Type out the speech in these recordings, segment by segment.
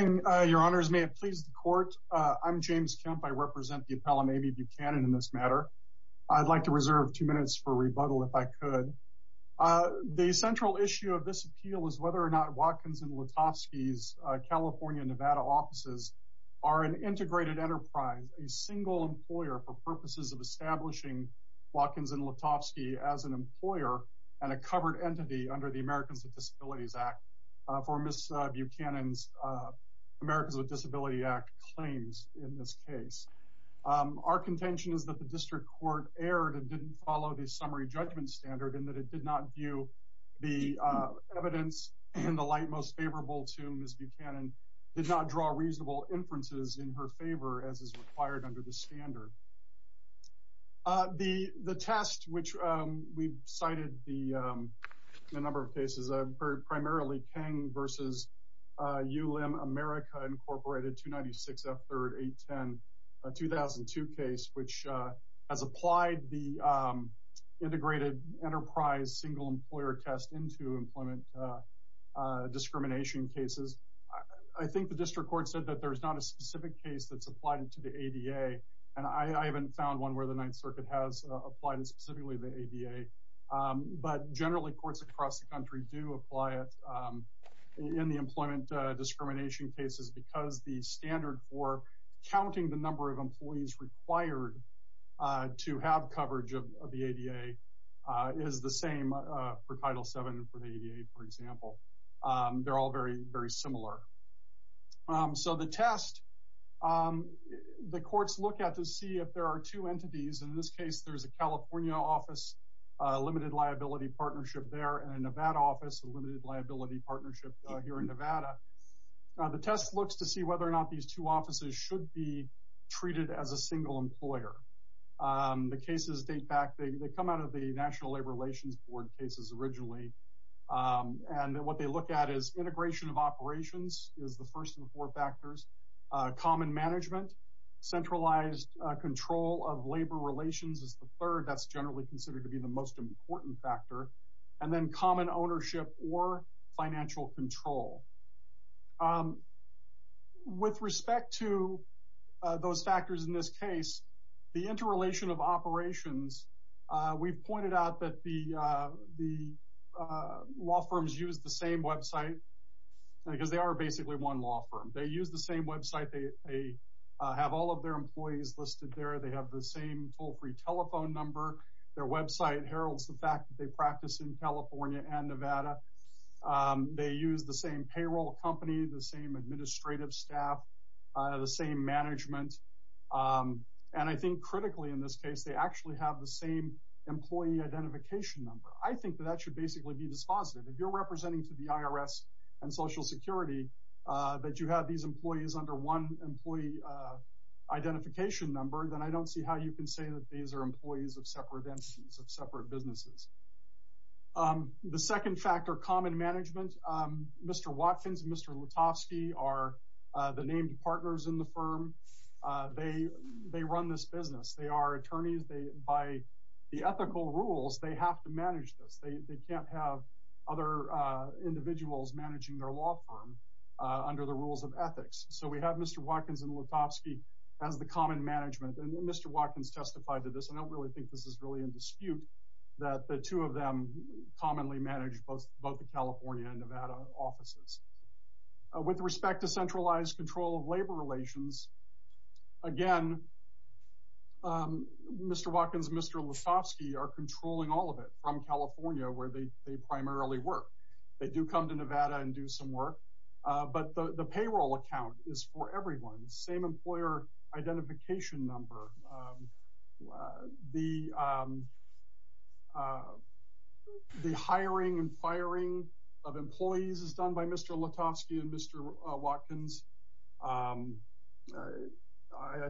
Your Honors, may it please the court. I'm James Kemp. I represent the appellant, Amy Buchanan, in this matter. I'd like to reserve two minutes for rebuttal if I could. The central issue of this appeal is whether or not Watkins & Letofsky's California and Nevada offices are an integrated enterprise, a single employer for purposes of establishing Watkins & Letofsky as an employer and a covered entity under the Americans with Disabilities Act. For Buchanan's Americans with Disabilities Act claims in this case. Our contention is that the district court erred and didn't follow the summary judgment standard and that it did not view the evidence in the light most favorable to Ms. Buchanan did not draw reasonable inferences in her favor as is required under the standard. The test which we cited the number of cases I've heard primarily Kang versus ULM America Incorporated 296 F3RD 810 2002 case which has applied the integrated enterprise single employer test into employment discrimination cases. I think the district court said that there's not a specific case that's applied to the ADA. And I haven't found one where the Ninth Circuit has applied specifically the ADA. But generally courts across the country do apply it in the employment discrimination cases because the standard for counting the number of employees required to have coverage of the ADA is the same for Title seven for the ADA, for example. They're all very, very similar. So the test the courts look at to see if there are two entities in this case, there's a California office, limited liability partnership there and a Nevada office, a limited liability partnership here in Nevada. The test looks to see whether or not these two offices should be treated as a single employer. The cases date back they come out of the National Labor Relations Board cases originally. And what they look at is integration of operations is the first of the four factors, common management, centralized control of labor relations is the third that's generally considered to be the most important factor, and then common ownership or financial control. With respect to those factors, in this case, the interrelation of operations, we've pointed out that the the law firms use the same website, because they are basically one law firm, they use the same website, they have all of their employees listed there, they have the same toll free telephone number, their website heralds the fact that they practice in California and Nevada. They use the same payroll company, the same administrative staff, the same management. And I think critically, in this case, they actually have the same employee identification number, I think that that should basically be dispositive, if you're representing to the IRS, and Social Security, that you have these employees under one employee identification number, then I don't see how you can say that these are employees of separate entities of separate businesses. The second factor common management, Mr. Watkins, Mr. Lutovsky are the named partners in the firm. They, they run this business, they are attorneys, they by the ethical rules, they have to manage this, they can't have other individuals managing their law firm under the rules of ethics. So we have Mr. Watkins and Lutovsky, as the common management and Mr. Watkins testified to this, I don't really think this is really in dispute, that the two of them commonly manage both both the California and Nevada offices. With respect to centralized control of labor relations. Again, Mr. Watkins, Mr. Lutovsky are controlling all of it from California, where they but the payroll account is for everyone's same employer identification number. The the hiring and firing of employees is done by Mr. Lutovsky and Mr. Watkins. I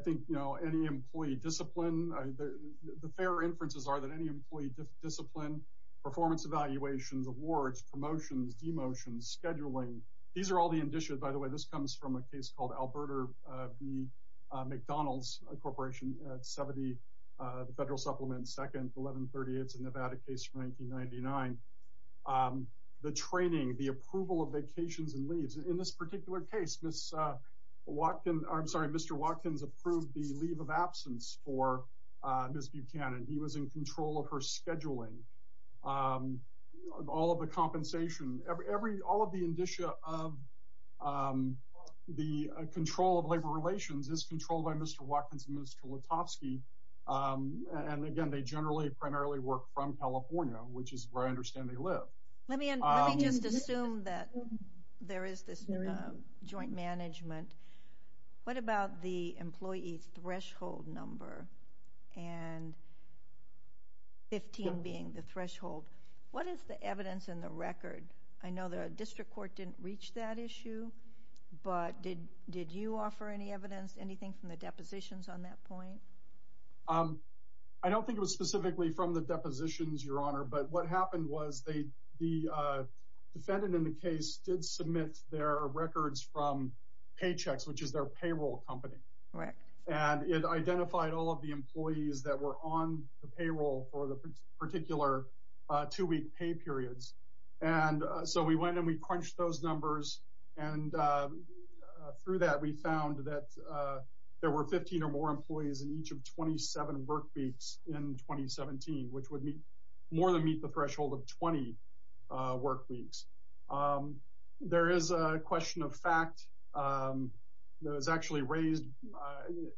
think you know, any employee discipline, the fair inferences are that any employee discipline, performance evaluations, awards, promotions, demotions, scheduling, these are all the indicia, by the way, this comes from a case called Alberta v. McDonald's Corporation, 70, the federal supplement, second 1138. It's a Nevada case from 1999. The training, the approval of vacations and leaves in this particular case, Miss Watkins, I'm sorry, Mr. Watkins approved the leave of absence for Miss Buchanan, he was in control of her scheduling. All of the compensation, every all of the indicia of the control of labor relations is controlled by Mr. Watkins and Mr. Lutovsky. And again, they generally primarily work from California, which is where I understand they live. Let me just assume that there is this joint management. What about the employee threshold number? And 15 being the record? I know the district court didn't reach that issue. But did did you offer any evidence anything from the depositions on that point? I don't think it was specifically from the depositions, Your Honor. But what happened was they, the defendant in the case did submit their records from paychecks, which is their payroll company, right. And it identified all of the employees that were on the payroll for the particular two pay periods. And so we went and we crunched those numbers. And through that, we found that there were 15 or more employees in each of 27 work weeks in 2017, which would be more than meet the threshold of 20 work weeks. There is a question of fact that was actually raised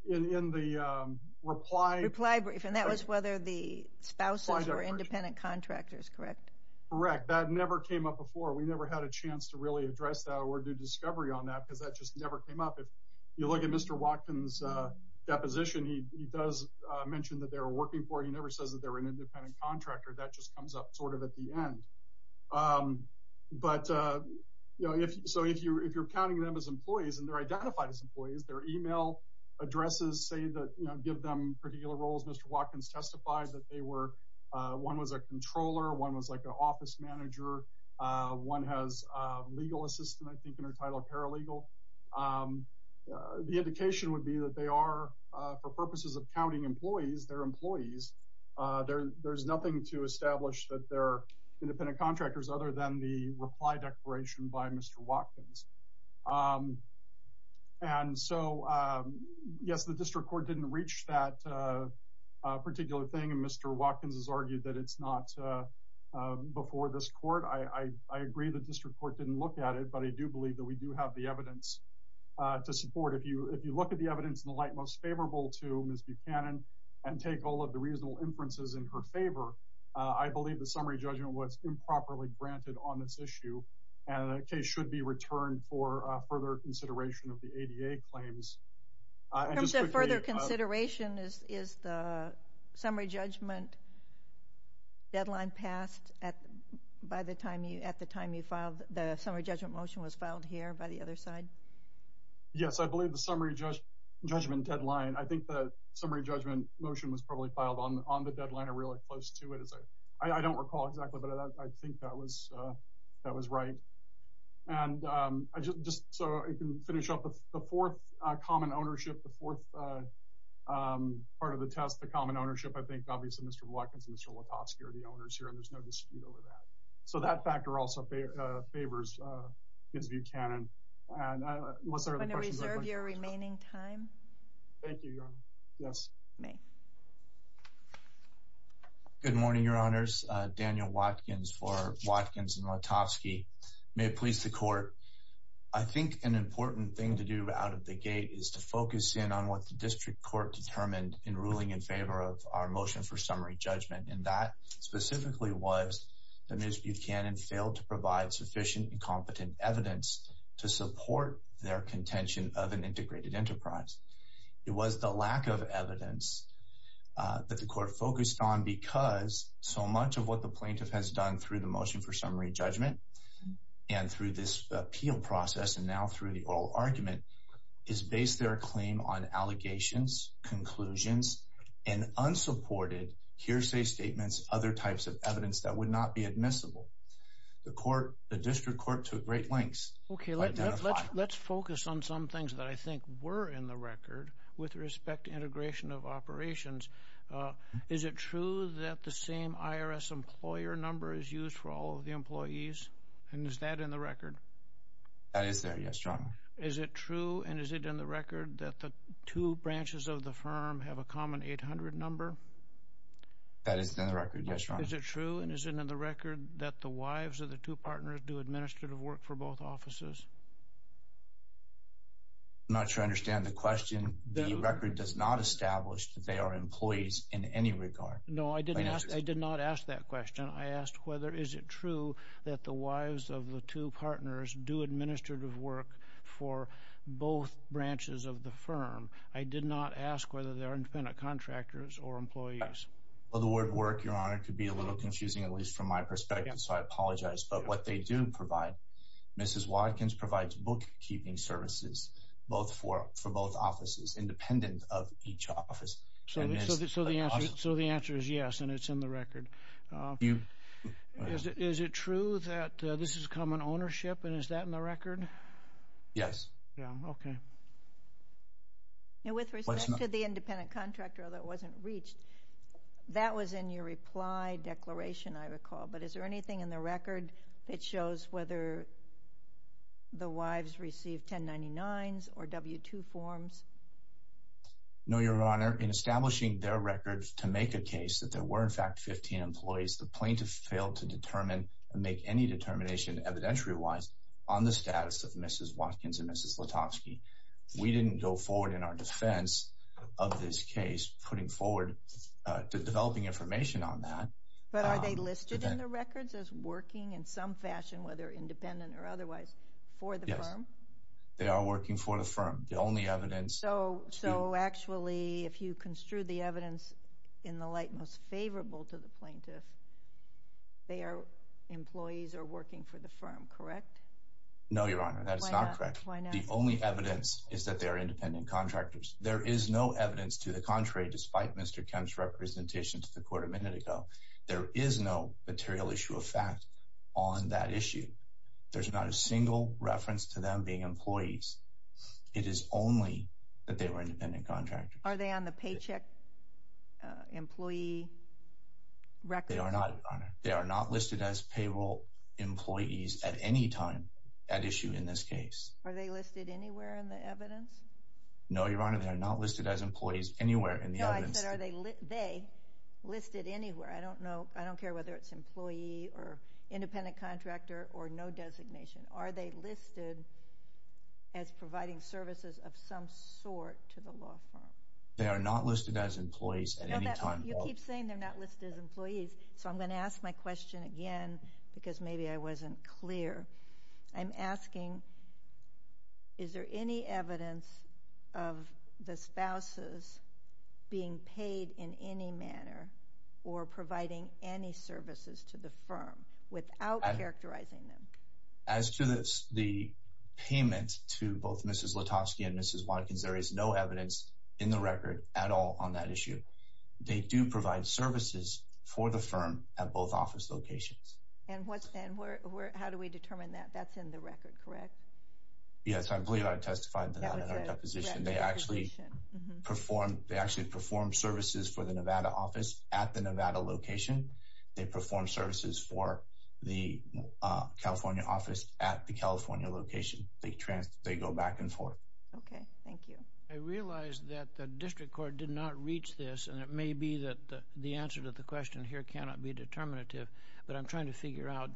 in the reply reply brief. And that was whether the spouses were correct. That never came up before. We never had a chance to really address that or do discovery on that because that just never came up. If you look at Mr. Watkins deposition, he does mention that they're working for he never says that they're an independent contractor that just comes up sort of at the end. But, you know, if so, if you're if you're counting them as employees, and they're identified as employees, their email addresses say that, you know, give them particular roles, Mr. Watkins testified that they were one was a office manager, one has legal assistant, I think, and are titled paralegal. The indication would be that they are, for purposes of counting employees, their employees, there, there's nothing to establish that they're independent contractors other than the reply declaration by Mr. Watkins. And so, yes, the district court didn't reach that particular thing. And Mr. Watkins has argued that it's not before this court, I agree the district court didn't look at it. But I do believe that we do have the evidence to support if you if you look at the evidence in the light most favorable to Ms. Buchanan, and take all of the reasonable inferences in her favor. I believe the summary judgment was improperly granted on this issue. And the case should be returned for further consideration of the ADA claims. I just further consideration is is the summary judgment deadline passed at by the time you at the time you filed the summary judgment motion was filed here by the other side. Yes, I believe the summary judge judgment deadline I think the summary judgment motion was probably filed on on the deadline or really close to it as I I don't recall exactly but I think that was that was right. And I just just so I can finish up with the fourth common ownership, the fourth part of the test, the common ownership, I think obviously, Mr. Watkins and Mr. Lutovsky are the owners here. And there's no dispute over that. So that factor also favors is Buchanan. Your remaining time. Thank you. Yes. Good morning, Your Honors. Daniel Watkins for Watkins and important thing to do out of the gate is to focus in on what the district court determined in ruling in favor of our motion for summary judgment. And that specifically was the misuse cannon failed to provide sufficient and competent evidence to support their contention of an integrated enterprise. It was the lack of evidence that the court focused on because so much of what the plaintiff has done through the motion for summary judgment. And through this appeal process, and now through the oral argument, is based their claim on allegations, conclusions, and unsupported hearsay statements, other types of evidence that would not be admissible. The court, the district court took great lengths. Okay, let's let's focus on some things that I think were in the record with respect to integration of operations. Is it true that the same IRS employer number is used for all of the employees? And is that in the record? That is there? Yes, John. Is it true? And is it in the record that the two branches of the firm have a common 800 number? That is the record? Yes. Is it true? And is it in the record that the wives of the two partners do administrative work for both offices? Not sure I understand the question. The record does not establish that they are employees in any regard. No, I didn't. I did not ask that question. I asked whether is it true that the wives of the two partners do administrative work for both branches of the firm? I did not ask whether they are independent contractors or employees. Well, the word work, Your Honor, could be a little confusing, at least from my perspective. So I apologize. But what they do provide, Mrs. Watkins provides bookkeeping services, both for for both offices independent of each office. So the answer is yes, and it's in the record. You. Is it true that this is common ownership? And is that in the record? Yes. Yeah. Okay. Now, with respect to the independent contractor that wasn't reached, that was in your reply declaration, I recall. But is there anything in the record that shows whether the wives receive 1099s or W-2 forms? No, Your Honor, in establishing their records to make a case that there were, in fact, 15 employees, the plaintiff failed to determine and make any determination evidentiary wise on the status of Mrs. Watkins and Mrs. Lutovsky. We didn't go forward in our defense of this case, putting forward the developing information on that. But are they listed in the records as working in some fashion, whether independent or otherwise, for the firm? They are working for the firm. The only evidence. So, so actually, if you construed the evidence in the light most favorable to the plaintiff, their employees are working for the firm, correct? No, Your Honor, that is not correct. The only evidence is that they are independent contractors. There is no evidence to the contrary, despite Mr. Kemp's representation to the court a minute ago. There is no material issue of fact on that issue. There's not a single reference to them being employees. It is only that they were independent contractors. Are they on the paycheck employee record? They are not, Your Honor. They are not listed as payroll employees at any time at issue in this case. Are they listed anywhere in the evidence? No, Your Honor, they are not listed as employees anywhere in the evidence. No, I said are they listed anywhere? I don't know. I don't care whether it's employee or independent contractor or no designation. Are they listed as providing services of some sort to the law firm? They are not listed as employees at any time. You keep saying they're not listed as employees. So I'm going to ask my question again, because maybe I wasn't clear. I'm asking, is there any evidence of the spouses being paid in any manner, or providing any services to the firm without characterizing them? As to this, the payment to both Mrs. Lutovsky and Mrs. Malkins, there is no evidence in the record at all on that issue. They do provide services for the firm at both office locations. And what's then? How do we determine that? That's in the record, correct? Yes, I believe I testified to that in our deposition. They actually perform services for the Nevada office at the Nevada location. They perform services for the California office at the California location. They go back and forth. Okay, thank you. I realized that the district court did not reach this. And it may be that the answer to the question here cannot be determinative. But I'm trying to figure out,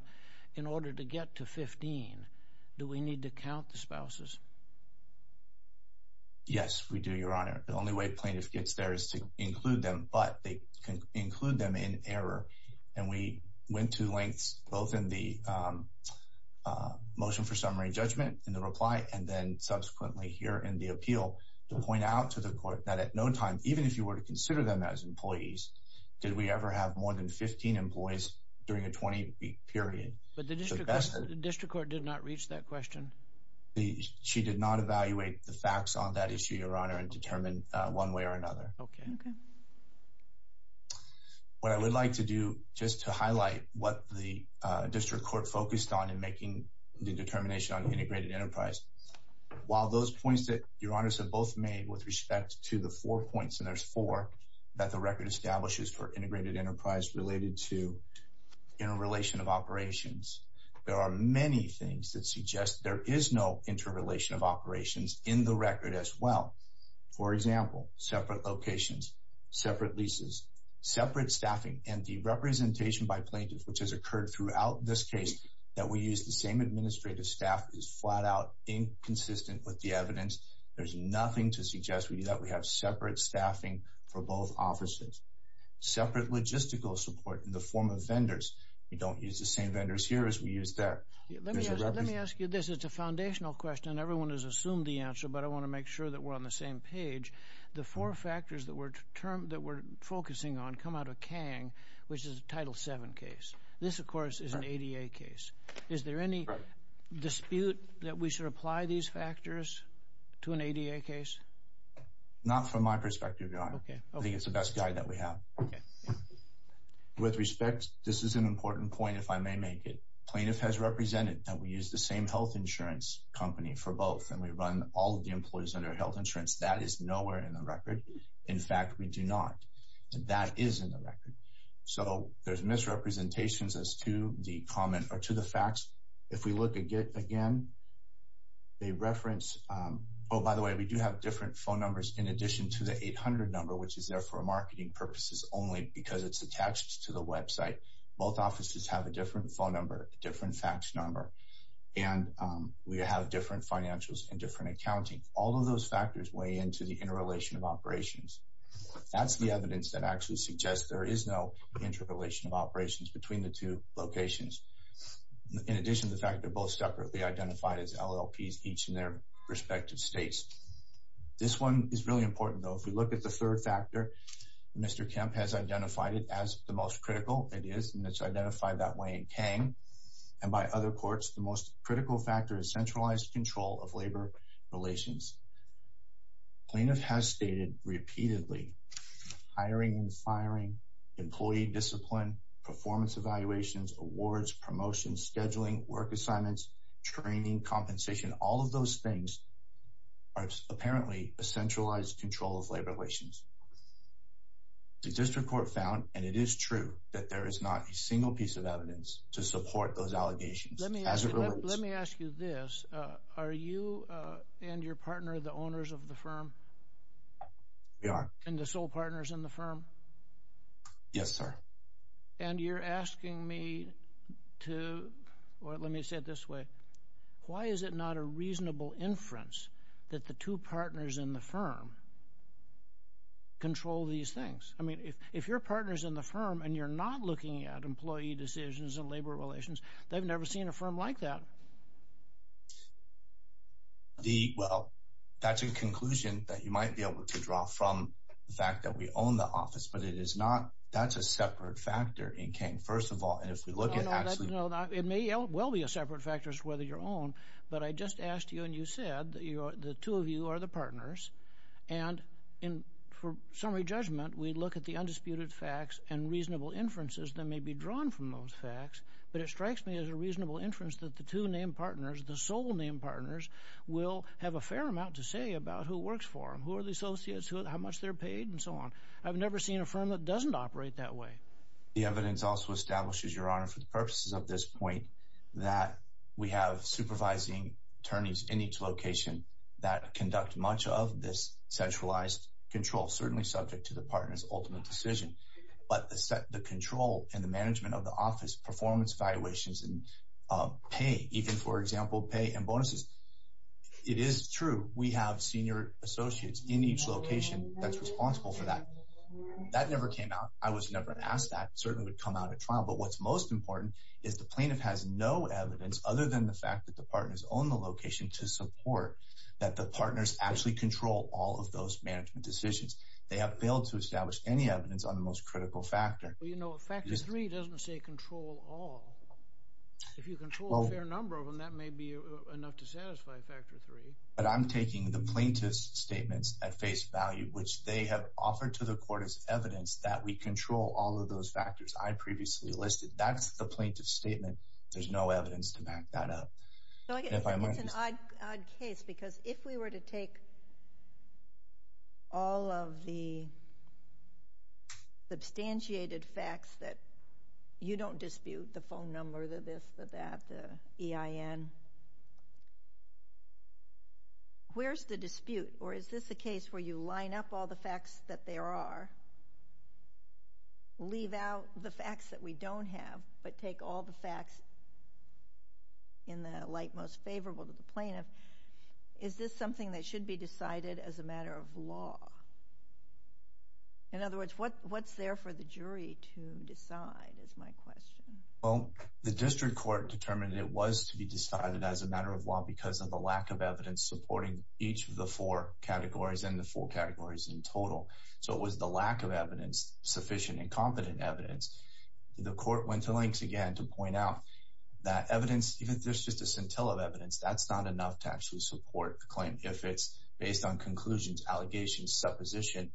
in order to get to 15, do we need to count the spouses? Yes, we do, Your Honor. The only way plaintiff gets there is to include them, but they can include them in error. And we went to lengths both in the motion for summary judgment in the reply, and then subsequently here in the appeal to point out to the court that at no time, even if you were to consider them as employees, did we ever have more than 15 employees during a 20 week period? But the district court did not reach that question. She did not evaluate the facts on that issue, Your Honor, and determine one way or another. Okay. What I would like to do just to highlight what the district court focused on in making the determination on integrated enterprise. While those points that Your Honors have both made with respect to the four points, and there's four, that the record establishes for integrated enterprise related to interrelation of operations, there are many things that suggest there is no interrelation of operations in the record as well. For example, separate locations, separate leases, separate staffing and the representation by plaintiffs, which has occurred throughout this case, that we use the same administrative staff is flat out inconsistent with the evidence. There's nothing to suggest we do that. We have separate staffing for both offices, separate logistical support in the form of vendors. We don't use the same vendors here as we use there. Let me ask you this. It's a foundational question. Everyone has assumed the answer, but I want to make sure that we're on the same page. The four factors that we're focusing on come out of Kang, which is a Title VII case. This, of course, is an ADA case. Is there any dispute that we should apply these factors to an ADA case? Not from my perspective, Your Honor. I think it's the best guide that we have. With respect, this is an important point, if I may make it. Plaintiff has represented that we use the same health insurance company for both, and we run all of the employees under health insurance. That is nowhere in the record. In fact, we do not. That is in the record. So there's misrepresentations as to the comment or to the facts. If we look at it again, they reference, oh, by the way, we do have different phone numbers in addition to the 800 number, which is there for marketing purposes only because it's attached to the website. Both offices have a different phone number, different fax number, and we have different financials and different accounting. All of those factors weigh into the interrelation of operations. That's the evidence that actually suggests there is no interrelation of operations between the two locations. In addition to the fact they're both separately identified as LLPs each in their respective states. This one is really important, though. If we look at the third factor, Mr. Kemp has identified it as the most critical it is, and it's identified that way in Kang, and by other courts, the most critical factor is centralized control of labor relations. Plaintiff has stated repeatedly, hiring and firing, employee discipline, performance evaluations, awards, promotion, scheduling, work assignments, training, compensation, all of those things are apparently centralized control of labor relations. The district court found and it is true that there is not a single piece of evidence to support those allegations. Let me ask you this. Are you and your partner the owners of the sole partners in the firm? Yes, sir. And you're asking me to, or let me say it this way. Why is it not a reasonable inference that the two partners in the firm control these things? I mean, if if your partners in the firm, and you're not looking at employee decisions and labor relations, they've never seen a firm like that. The well, that's a conclusion that you might be able to draw from the fact that we own the office, but it is not. That's a separate factor in Kang. First of all, and if we look at actually, it may well be a separate factors whether your own, but I just asked you and you said that you are the two of you are the partners. And in for summary judgment, we look at the undisputed facts and reasonable inferences that may be drawn from those facts. But it strikes me as a reasonable inference that the two name partners, the sole name partners will have a fair amount to say about who works for them, who are the associates how much they're paid and so on. I've never seen a firm that doesn't operate that way. The evidence also establishes your honor for the purposes of this point, that we have supervising attorneys in each location that conduct much of this centralized control certainly subject to the partners ultimate decision, but the control and the management of the office performance valuations and pay even for example, pay and bonuses. It is true, we have senior associates in each location that's responsible for that. That never came out. I was never asked that certainly would come out of trial. But what's most important is the plaintiff has no evidence other than the fact that the partners own the location to support that the partners actually control all of those management decisions. They have failed to establish any evidence on the most critical factor. You know, factor three doesn't say control all. If you control a fair number of them, that may be enough to satisfy factor three. But I'm taking the plaintiff's statements at face value, which they have offered to the court as evidence that we control all of those factors I previously listed. That's the plaintiff statement. There's no evidence to back that up. So I guess it's an odd case because if we were to take all of the substantiated facts that you don't dispute the phone Where's the dispute? Or is this a case where you line up all the facts that there are? Leave out the facts that we don't have, but take all the facts in the light most favorable to the plaintiff? Is this something that should be decided as a matter of law? In other words, what what's there for the jury to decide is my question. Well, the district court determined it was to be decided as a matter of law because of the lack of evidence supporting each of the four categories and the four categories in total. So it was the lack of evidence, sufficient and competent evidence. The court went to lengths again to point out that evidence, even if there's just a scintilla of evidence, that's not enough to actually support the claim. If it's based on conclusions, allegations, supposition,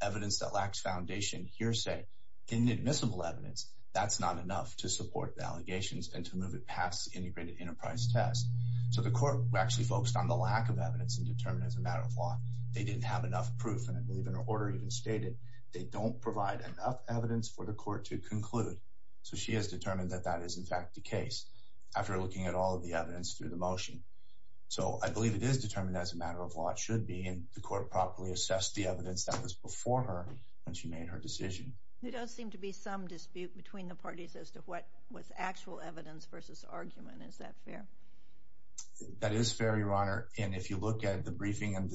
evidence that lacks foundation, hearsay, inadmissible evidence, that's not enough to support the allegations and to move it past the integrated enterprise test. So the court actually focused on the lack of evidence and determined as a matter of law, they didn't have enough proof. And I believe in her order even stated, they don't provide enough evidence for the court to conclude. So she has determined that that is in fact the case, after looking at all of the evidence through the motion. So I believe it is determined as a matter of law should be in the court properly assess the evidence that was before her when she made her decision. There does seem to be some dispute between the parties as to what was actual evidence versus argument. Is that fair? That is fair, Your Honor. And if you look at the briefing, and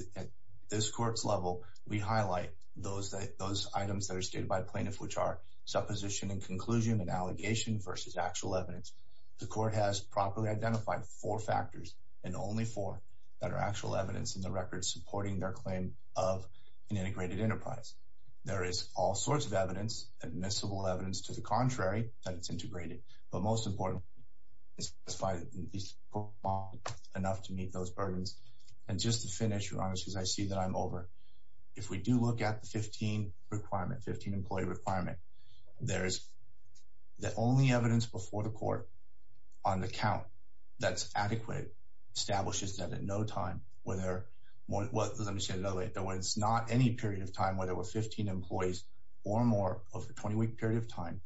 this court's level, we highlight those that those items that are stated by plaintiffs, which are supposition and conclusion and allegation versus actual evidence. The court has properly identified four factors, and only four that are actual evidence in the record supporting their claim of an integrated enterprise. There is all sorts of evidence, admissible evidence to the contrary, that it's integrated. But most importantly, it's enough to meet those burdens. And just to finish, Your Honor, because I see that I'm over. If we do look at the 15 requirement, 15 employee requirement, there's the only evidence before the court, on the count, that's adequate, establishes that at no time, whether it's not any period of time, whether we're 15 employees or more over a 20 week period of time.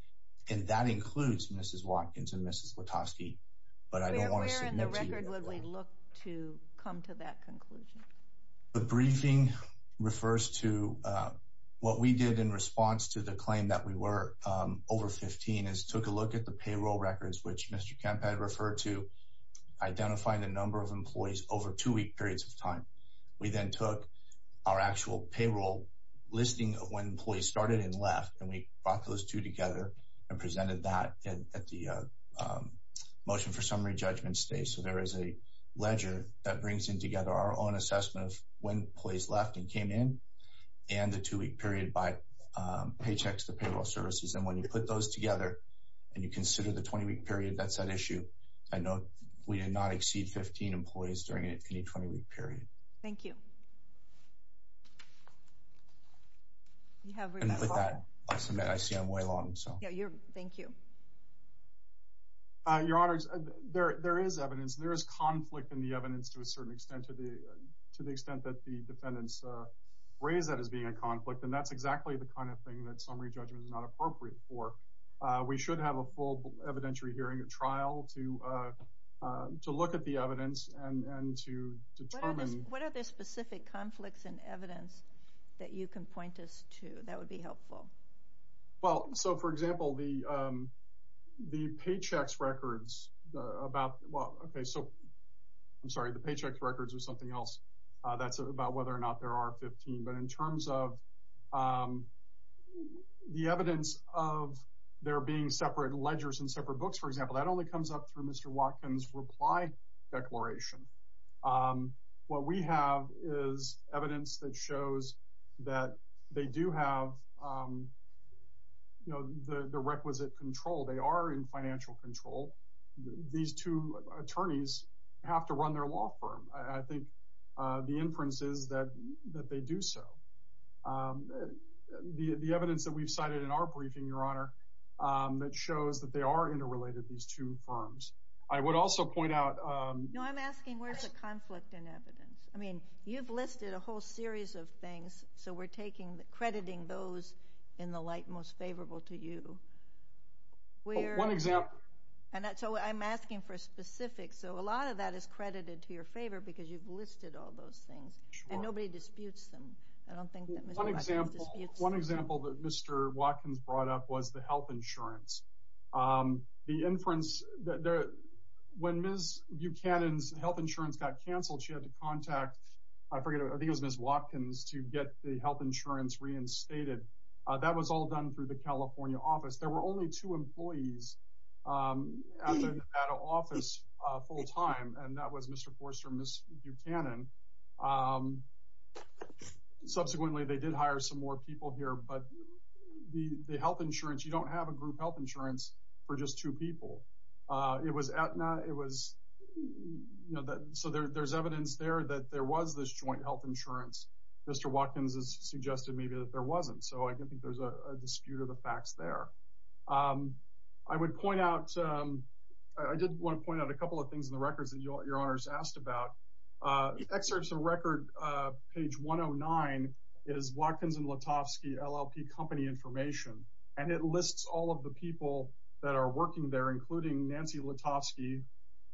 And that includes Mrs. Watkins and Mrs. Witoski. But I don't want to submit to you. Where in the record would we look to come to that conclusion? The briefing refers to what we did in response to the claim that we were over 15 is took a look at the payroll records, which Mr. Kemp had referred to, identifying the number of employees over two week periods of time. We then took our actual payroll listing of when employees started and left. And we brought those two together and presented that at the motion for summary judgment stage. So there is a ledger that brings in together our own assessment of when employees left and came in and the two week period by paychecks, the payroll services. And when you put those together, and you consider the 20 week period, that's that issue. I know we did not exceed 15 employees during any 20 week period. Thank you. You have with that I see I'm way long. So you're. Thank you. Your honors, there is evidence. There is conflict in the evidence to a certain extent to the extent that the defendants raise that as being a conflict. And that's exactly the kind of thing that summary judgment is not appropriate for. We should have a full evidentiary hearing a trial to to look at the evidence and to determine what are the specific conflicts in evidence that you can point us to that would be helpful. Well, so for example, the the paychecks records about well, okay, so I'm sorry, the paychecks records or something else. That's about whether or not there are 15. But in terms of the evidence of there being separate ledgers and separate books, for example, that only comes up through Mr. Watkins reply declaration. What we have is evidence that shows that they do have, you know, the requisite control, they are in financial control. These two attorneys have to run their law firm, I think the inferences that that they do. So the evidence that we've cited in our briefing, Your Honor, that shows that they are interrelated these two firms, I would also point out, no, I'm asking where's the conflict in evidence? I mean, you've listed a whole series of things. So we're taking the crediting those in the light most favorable to you. We're one example. And that's all I'm asking for a specific. So a lot of that is credited to your favor, because you've listed all those things. And nobody disputes them. I don't think that one example, one example that Mr. Watkins brought up was the health insurance. The inference that there, when Ms. Buchanan's health insurance got canceled, she had to contact, I forget, I think it was Ms. Watkins to get the health insurance reinstated. That was all done through the California office, there were only two employees at an office full time and that was Mr. Forster, Ms. Buchanan. Subsequently, they did not have a group health insurance for just two people. It was Aetna, it was, you know, that so there's evidence there that there was this joint health insurance. Mr. Watkins has suggested maybe that there wasn't. So I don't think there's a dispute of the facts there. I would point out, I did want to point out a couple of things in the records that your honors asked about excerpts of record. Page 109 is Watkins and all of the people that are working there, including Nancy Lutovsky,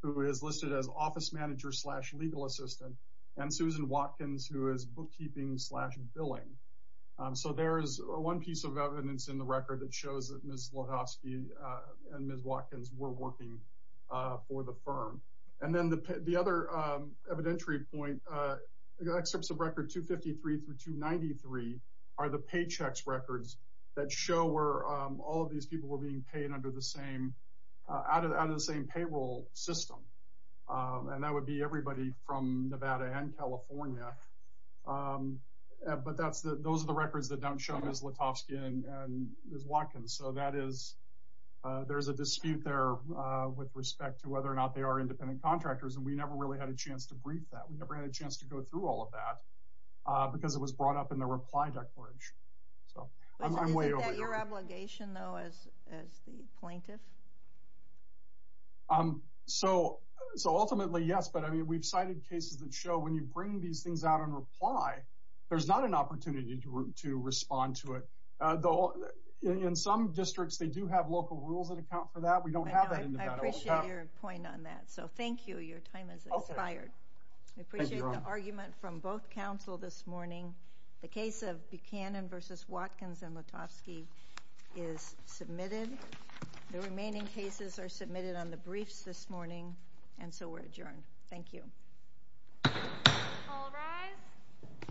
who is listed as office manager slash legal assistant, and Susan Watkins, who is bookkeeping slash billing. So there's one piece of evidence in the record that shows that Ms. Lutovsky and Ms. Watkins were working for the firm. And then the other evidentiary point, excerpts of record 253 through 293 are the paychecks records that show where all of these people were being paid under the same out of out of the same payroll system. And that would be everybody from Nevada and California. But that's the those are the records that don't show Ms. Lutovsky and Ms. Watkins. So that is, there's a dispute there with respect to whether or not they are independent contractors. And we never really had a chance to brief that we never had a chance to go through all of that. Because it was brought up in the reply report. So I'm way over your obligation, though, as as the plaintiff. Um, so, so ultimately, yes. But I mean, we've cited cases that show when you bring these things out in reply, there's not an opportunity to respond to it, though, in some districts, they do have local rules that account for that we don't have that in Nevada. I appreciate your point on that. So thank you. Your time is expired. I appreciate the argument from both council this morning. The case of Buchanan versus Watkins and Lutovsky is submitted. The remaining cases are submitted on the briefs this morning. And so we're adjourned. Thank you.